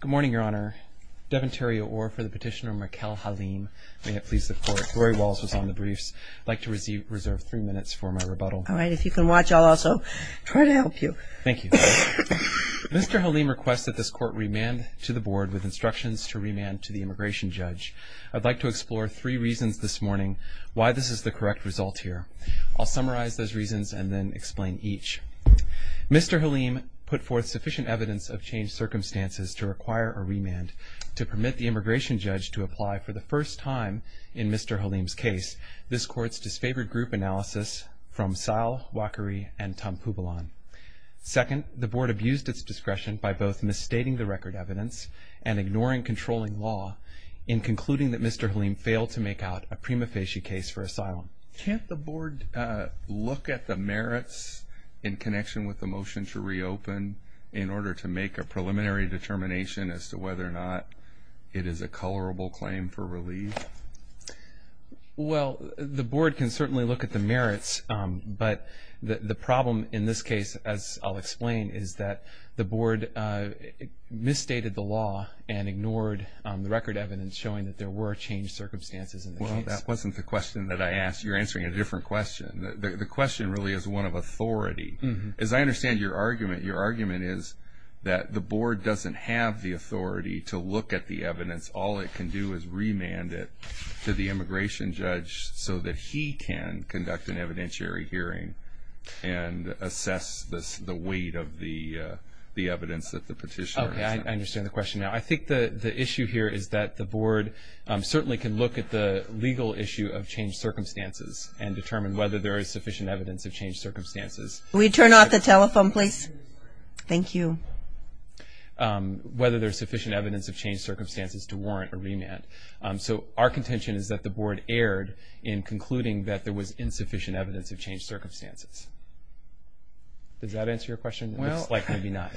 Good morning, Your Honor. Deventerio Orr for the petitioner, Maikal Halim. May it please the Court. Rory Wallace was on the briefs. I'd like to reserve three minutes for my rebuttal. All right. If you can watch, I'll also try to help you. Thank you. Mr. Halim requests that this Court remand to the board with instructions to remand to the immigration judge. I'd like to explore three reasons this morning why this is the correct result here. I'll summarize those reasons and then explain each. Mr. Halim put forth sufficient evidence of changed circumstances to require a remand to permit the immigration judge to apply for the first time in Mr. Halim's case. This Court's disfavored group analysis from Sahl, Wakari, and Tampuvalon. Second, the board abused its discretion by both misstating the record evidence and ignoring controlling law in concluding that Mr. Halim failed to make out a prima facie case for asylum. Can't the board look at the merits in connection with the motion to reopen in order to make a preliminary determination as to whether or not it is a colorable claim for relief? Well, the board can certainly look at the merits, but the problem in this case, as I'll explain, is that the board misstated the law and ignored the record evidence showing that there were changed circumstances in the case. Well, that wasn't the question that I asked. You're answering a different question. The question really is one of authority. As I understand your argument, your argument is that the board doesn't have the authority to look at the evidence. All it can do is remand it to the immigration judge so that he can conduct an evidentiary hearing and assess the weight of the evidence that the petitioner has. Okay, I understand the question. Now, I think the issue here is that the board certainly can look at the legal issue of changed circumstances and determine whether there is sufficient evidence of changed circumstances. Will you turn off the telephone, please? Thank you. Whether there's sufficient evidence of changed circumstances to warrant a remand. So our contention is that the board erred in concluding that there was insufficient evidence of changed circumstances. Does that answer your question? Looks like maybe not.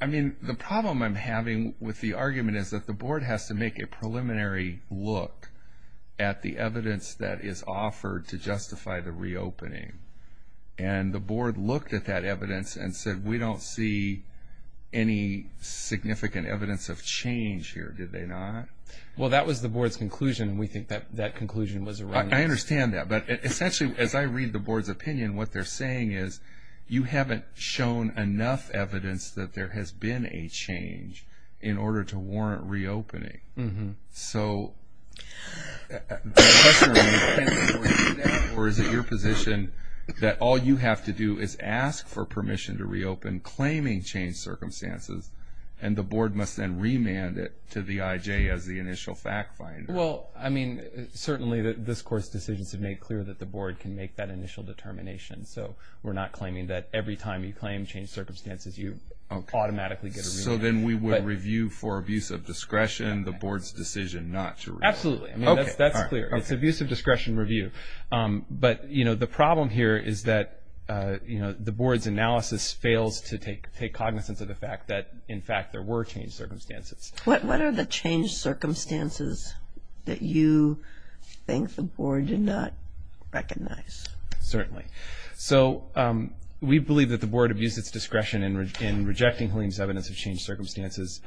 I mean, the problem I'm having with the argument is that the board has to make a preliminary look at the evidence that is offered to justify the reopening. And the board looked at that evidence and said, we don't see any significant evidence of change here. Did they not? Well, that was the board's conclusion, and we think that that conclusion was wrong. I understand that. But essentially, as I read the board's opinion, what they're saying is you haven't shown enough evidence that there has been a change in order to warrant reopening. So, the question is, can we do that? Or is it your position that all you have to do is ask for permission to reopen claiming changed circumstances, and the board must then remand it to the IJ as the initial fact finder? Well, I mean, certainly this Court's decisions have made clear that the board can make that initial determination. So, we're not claiming that every time you claim changed circumstances, you automatically get a remand. So, then we would review for abuse of discretion the board's decision not to reopen? Absolutely. I mean, that's clear. It's abuse of discretion review. But, you know, the problem here is that, you know, the board's analysis fails to take cognizance of the fact that, in fact, there were changed circumstances. What are the changed circumstances that you think the board did not recognize? Certainly. So, we believe that the board abused its discretion in rejecting Halim's evidence of changed circumstances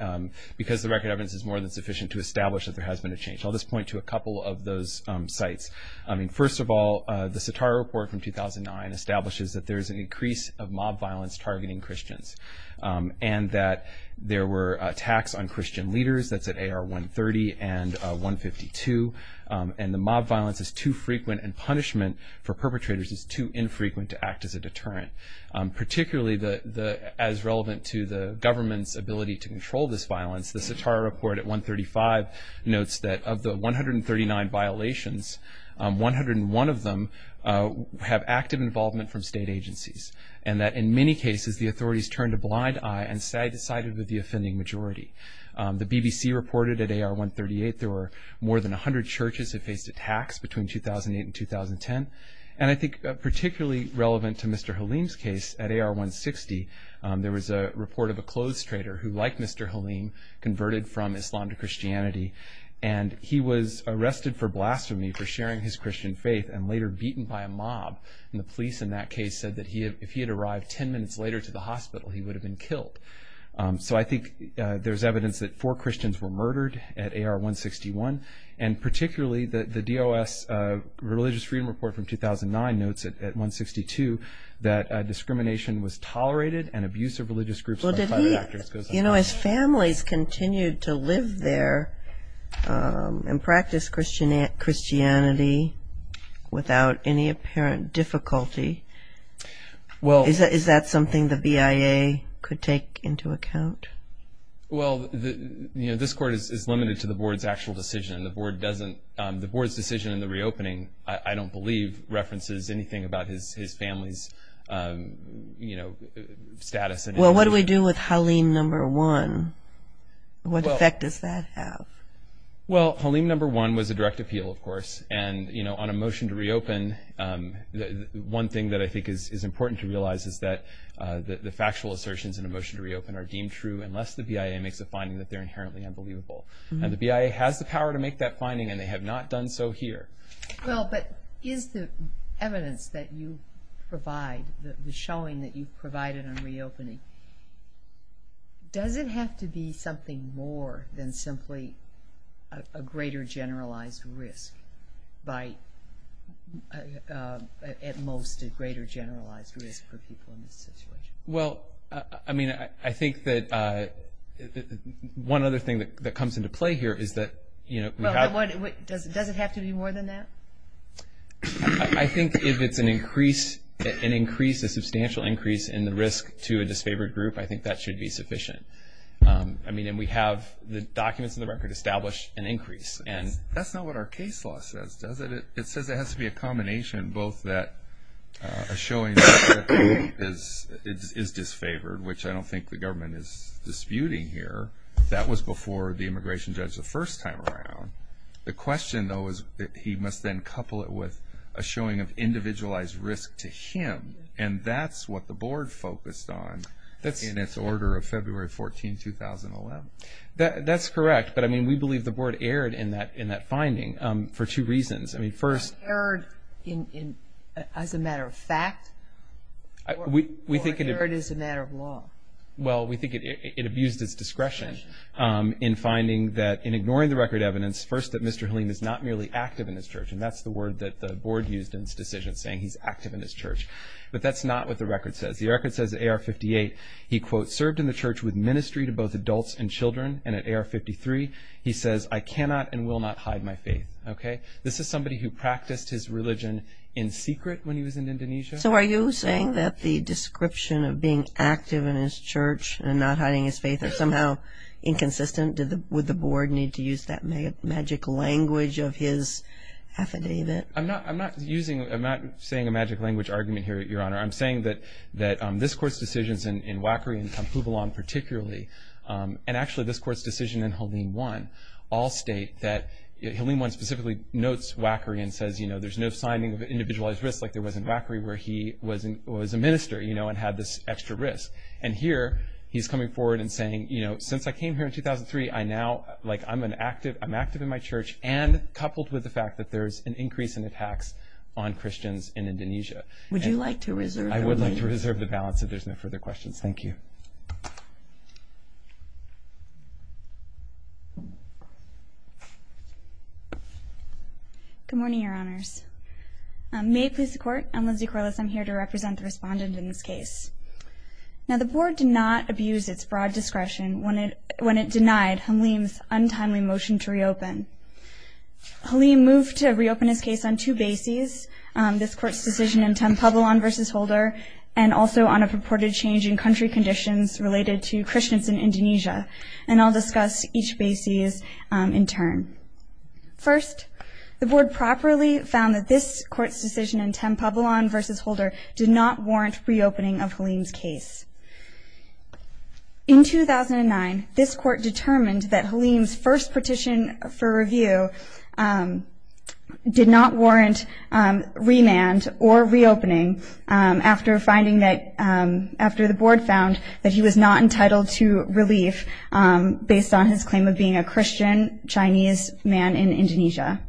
because the record evidence is more than sufficient to establish that there has been a change. I'll just point to a couple of those sites. I mean, first of all, the Sitara report from 2009 establishes that there's an increase of mob violence targeting Christians, and that there were attacks on Christian leaders. That's at AR 130 and 152. And the mob violence is too frequent, and punishment for perpetrators is too infrequent to act as a deterrent. Particularly as relevant to the government's ability to control this violence, the Sitara report at 135 notes that of the 139 violations, 101 of them have active involvement from state agencies, and that in many cases the authorities turned a blind eye and decided with the offending majority. The BBC reported at AR 138 there were more than 100 churches that faced attacks between 2008 and 2010. And I think particularly relevant to Mr. Halim's case at AR 160, there was a report of a clothes trader who, like Mr. Halim, converted from Islam to Christianity, and he was arrested for blasphemy for sharing his Christian faith and later beaten by a mob. And the police in that case said that if he had arrived 10 minutes later to the hospital, he would have been killed. So I think there's evidence that four Christians were murdered at AR 161, and particularly the DOS religious freedom report from 2009 notes at 162 that discrimination was tolerated and abuse of religious groups by private actors goes unnoticed. You know, as families continued to live there and practice Christianity without any apparent difficulty, is that something the BIA could take into account? Well, you know, this court is limited to the board's actual decision. The board's decision in the reopening, I don't believe references anything about his family's, you know, status. Well, what do we do with Well, Halim number one was a direct appeal, of course. And, you know, on a motion to reopen, one thing that I think is important to realize is that the factual assertions in a motion to reopen are deemed true unless the BIA makes a finding that they're inherently unbelievable. And the BIA has the power to make that finding, and they have not done so here. Well, but is the evidence that you provide, the showing that you've provided on reopening, does it have to be something more than simply a greater generalized risk by, at most, a greater generalized risk for people in this situation? Well, I mean, I think that one other thing that comes into play here is that, you know, does it have to be more than that? I think if it's an increase, an increase, a substantial increase in the risk to a disfavored group, I think that should be sufficient. I mean, and we have the documents in the record establish an increase. That's not what our case law says, does it? It says it has to be a combination, both that a showing is disfavored, which I don't think the government is disputing here. That was before the immigration judge the first time around. The question, though, is that he must then couple it with a showing of individualized risk to him. And that's what the board focused on in its order of February 14, 2011. That's correct. But, I mean, we believe the board erred in that finding for two reasons. I mean, first... Erred as a matter of fact? Or erred as a matter of law? Well, we think it abused its discretion in finding that in ignoring the record evidence, first, that Mr. Helene is not merely active in his church. And that's the word that the board used in its decision, saying he's active in his church. But that's not what the record says. The record says AR-58, he, quote, served in the church with ministry to both adults and children. And at AR-53, he says, I cannot and will not hide my faith. Okay? This is somebody who practiced his religion in secret when he was in Indonesia. So are you saying that the description of being active in his church and not hiding his faith is somehow inconsistent? Would the board need to use that magic language of his affidavit? I'm not using... I'm not saying a magic language argument here, Your Honor. I'm saying that this Court's decisions in Wackery and Kampuvalon particularly, and actually this Court's decision in Helene I, all state that... Helene I specifically notes Wackery and says, you know, there's no signing of individualized risks like there was in Wackery, where he was a minister, you know, and had this extra risk. And here, he's coming forward and saying, you know, since I came here in 2003, I now... Like, I'm an active... I'm active in my church, and coupled with the fact that there's an increase in attacks on Christians in Indonesia. Would you like to reserve... I would like to reserve the balance if there's no further questions. Thank you. Good morning, Your Honors. May it please the Court, I'm Lindsay Corliss. I'm here to represent the respondent in this case. Now, the board did not abuse its broad discretion when it... denied Helene's untimely motion to reopen. Helene moved to reopen his case on two bases, this Court's decision in Kampuvalon v. Holder, and also on a purported change in country conditions related to Christians in Indonesia. And I'll discuss each bases in turn. First, the board properly found that this Court's decision in Kampuvalon v. Holder did not warrant reopening of Helene's case. In 2009, this Court determined that Helene's first petition for review did not warrant remand or reopening after finding that... after the board found that he was not entitled to relief based on his claim of being a Christian Chinese man in Indonesia.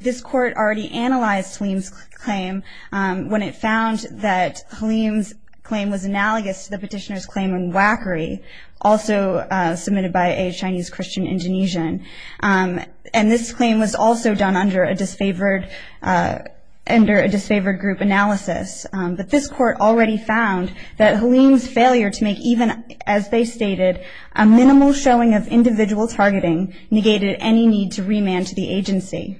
This Court already analyzed Helene's claim when it found that Helene's claim was analogous to the petitioner's claim in Wakari, also submitted by a Chinese Christian Indonesian. And this claim was also done under a disfavored... under a disfavored group analysis. But this Court already found that Helene's failure to make even, as they stated, a minimal showing of individual targeting negated any need to remand to the agency.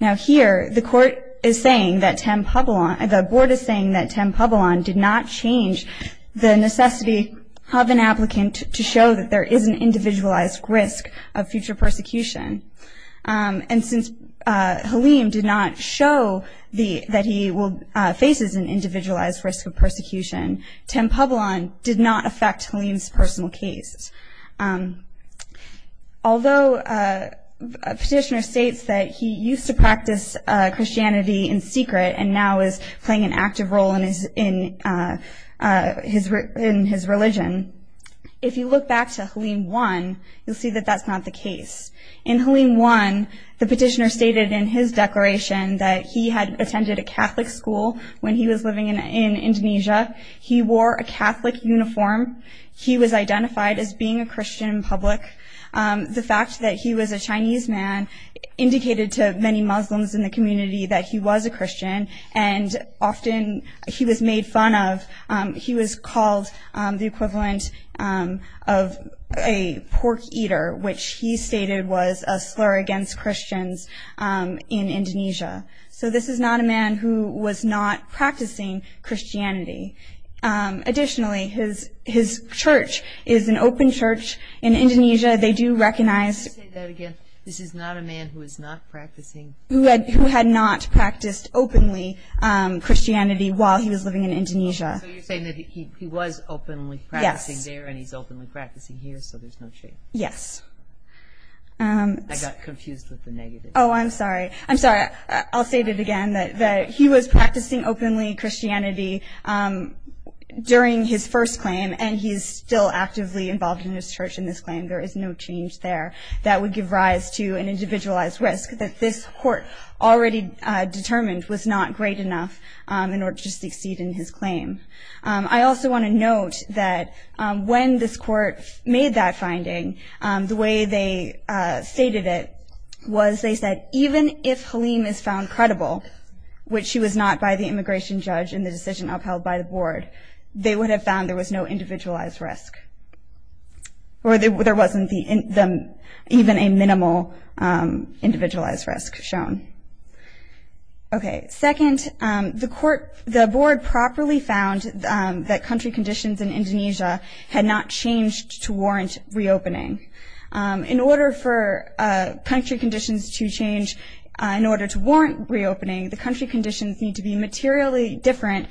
Now here, the Court is saying that Kampuvalon... the board is saying that Kampuvalon did not change the necessity of an applicant to show that there is an individualized risk of future persecution. And since Helene did not show that he will... faces an individualized risk of persecution, Kampuvalon did not affect Helene's case. Although a petitioner states that he used to practice Christianity in secret and now is playing an active role in his... in his religion, if you look back to Helene 1, you'll see that that's not the case. In Helene 1, the petitioner stated in his declaration that he had attended a being a Christian in public. The fact that he was a Chinese man indicated to many Muslims in the community that he was a Christian, and often he was made fun of. He was called the equivalent of a pork eater, which he stated was a slur against Christians in Indonesia. So this is a man who was not practicing Christianity. Additionally, his church is an open church in Indonesia. They do recognize... Can you say that again? This is not a man who is not practicing... Who had not practiced openly Christianity while he was living in Indonesia. So you're saying that he was openly practicing there and he's openly practicing here, so there's no shame. Yes. I got confused with the negative. Oh, I'm sorry. I'm sorry. I'll say it again, that he was practicing openly Christianity during his first claim, and he's still actively involved in his church in this claim. There is no change there that would give rise to an individualized risk that this court already determined was not great enough in order to succeed in his claim. I also want to note that when this court made that finding, the way they stated it was they said even if Halim is found credible, which he was not by the immigration judge in the decision upheld by the board, they would have found there was no individualized risk, or there wasn't even a minimal individualized risk shown. Okay. Second, the board properly found that country conditions in Indonesia had not changed to warrant reopening. In order for country conditions to change in order to warrant reopening, the country conditions need to be materially different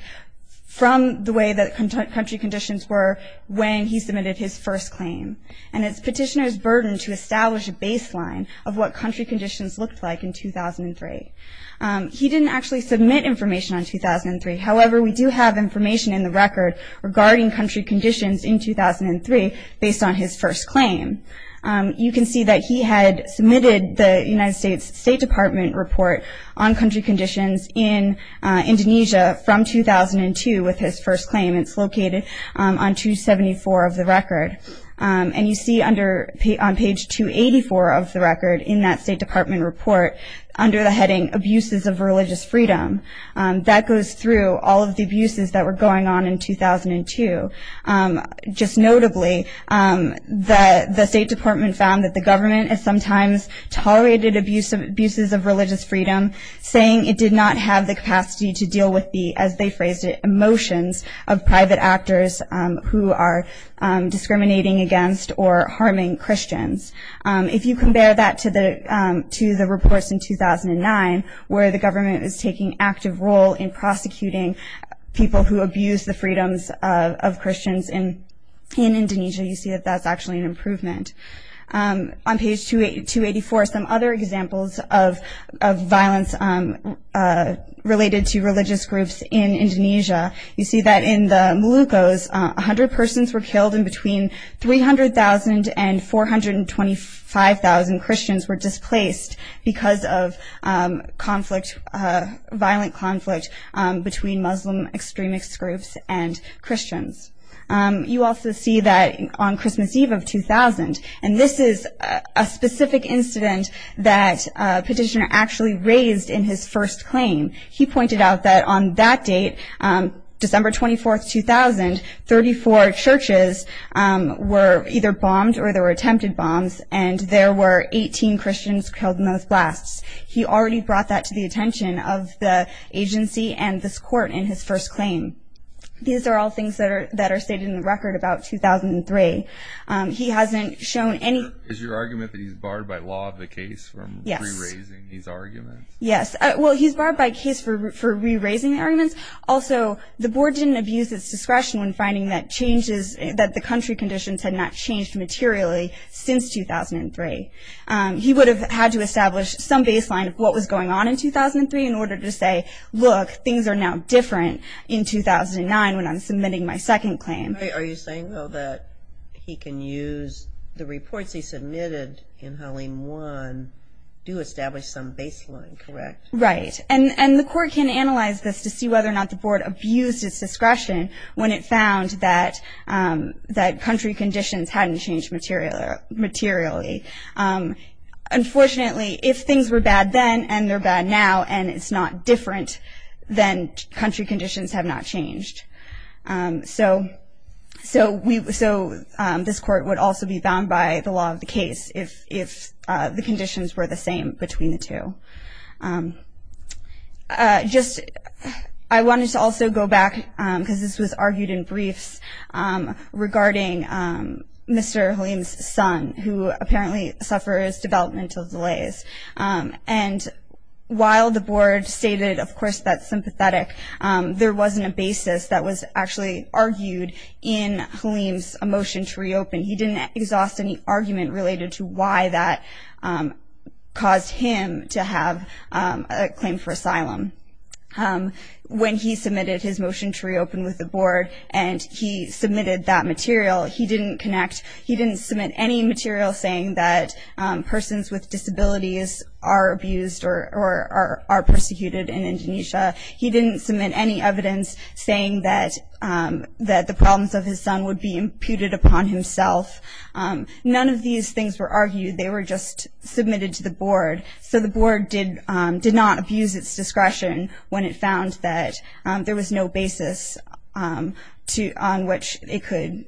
from the way that country conditions were when he submitted his first claim. And it's petitioner's burden to establish a baseline of what country conditions looked like in 2003. He didn't actually submit information on 2003. However, we do have information in the record regarding country conditions in 2003 based on his first claim. You can see that he had submitted the United States State Department report on country conditions in Indonesia from 2002 with his first claim. It's located on 274 of the record. And you see on page 284 of the record in that State Department report under the heading abuses of religious freedom. That goes through all of the abuses that were going on in 2002. Just notably, the State Department found that the government has sometimes tolerated abuses of religious freedom, saying it did not have the capacity to deal with the, as they phrased it, emotions of private actors who are discriminating against or harming Christians. If you compare that to the reports in 2009, where the government was taking active role in prosecuting people who abused the freedoms of Christians in Indonesia, you see that that's actually an improvement. On page 284, some other examples of violence related to religious groups in Indonesia, you see that in the Moluccos, 100 persons were killed and between 300,000 and 425,000 Christians were displaced because of conflict, violent conflict between Muslim extremist groups and Christians. You also see that on Christmas Eve of 2000, and this is a specific incident that a petitioner actually raised in his first claim. He pointed out that on that date, December 24, 2000, 34 churches were either bombed or there were attempted bombs, and there were 18 Christians killed in those blasts. He already brought that to the attention of the agency and this court in his first claim. These are all things that are stated in the record about 2003. He hasn't shown any... Is your argument that he's barred by law of the case from re-raising these arguments? Yes. Well, he's barred by case for re-raising arguments. Also, the board didn't abuse its discretion when finding that the country conditions had not changed materially since 2003. He would have had to establish some baseline of what was going on in 2003 in order to say, look, things are now different in 2009 when I'm submitting my second claim. Are you saying, though, that he can use the reports he submitted in Halim 1 to establish some baseline, correct? Right, and the court can analyze this to see whether or not the board abused its discretion when it found that country conditions hadn't changed materially. Unfortunately, if things were bad then and they're bad now and it's not different, then country So this court would also be bound by the law of the case if the conditions were the same between the two. I wanted to also go back because this was argued in briefs regarding Mr. Halim's son who apparently suffers developmental delays and while the board stated, of course, that's sympathetic, there wasn't a basis that was actually argued in Halim's motion to reopen. He didn't exhaust any argument related to why that caused him to have a claim for asylum. When he submitted his motion to reopen with the board and he submitted that material, he didn't connect, he didn't submit any material saying that persons with disabilities are abused or are persecuted in Indonesia. He didn't submit any evidence saying that the problems of his son would be imputed upon himself. None of these things were argued, they were just submitted to the board. So the board did not abuse its discretion when it found that there was no basis on which it could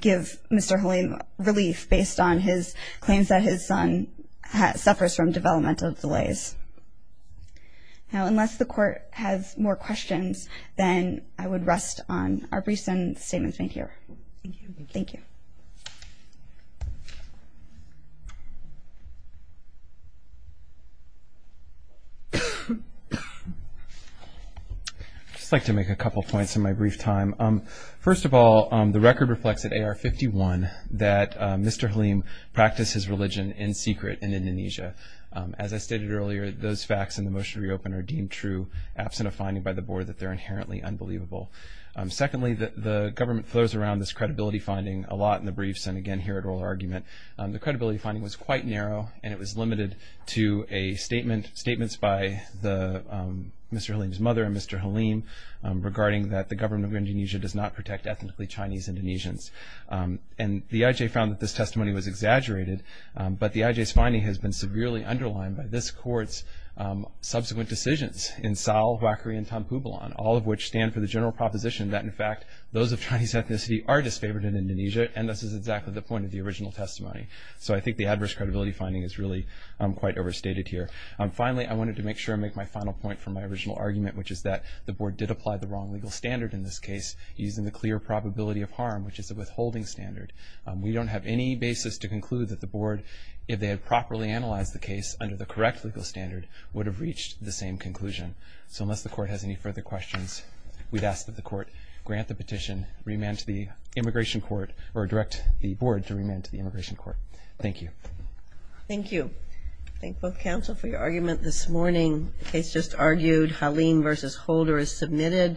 give Mr. Halim relief based on his claims that his son suffers from developmental delays. Now unless the court has more questions, then I would rest on our briefs and statements made here. Thank you. I'd just like to make a couple points in my brief time. First of all, the record reflects at AR 51 that Mr. Halim practiced his religion in secret in Indonesia. As I stated earlier, those facts in the motion to reopen are deemed true absent of finding by the board that they're inherently unbelievable. Secondly, the government throws around this credibility finding a lot in the briefs and again here at oral argument. The credibility finding was quite narrow and it was limited to statements by Mr. Halim's mother and Mr. Halim regarding that the government of Indonesia does not protect ethnically Chinese Indonesians. And the IJ found that this testimony was exaggerated, but the IJ's finding has been severely underlined by this court's subsequent decisions in Sal, Wakhri, and Tanpubilan, all of which stand for the general proposition that in fact those of Chinese ethnicity are disfavored in Indonesia and this is exactly the point of the original testimony. So I think the adverse credibility finding is really quite overstated here. Finally, I wanted to make sure I make my final point from my original argument, which is that the board did apply the wrong legal standard in this case using the clear probability of harm, which is a withholding standard. We don't have any basis to conclude that the board, if they had properly analyzed the case under the correct legal standard, would have reached the same conclusion. So unless the court has any further questions, we'd ask that the court grant the petition, remand to the immigration court, or direct the board to remand to the immigration court. Thank you. Thank you. Thank both counsel for your argument this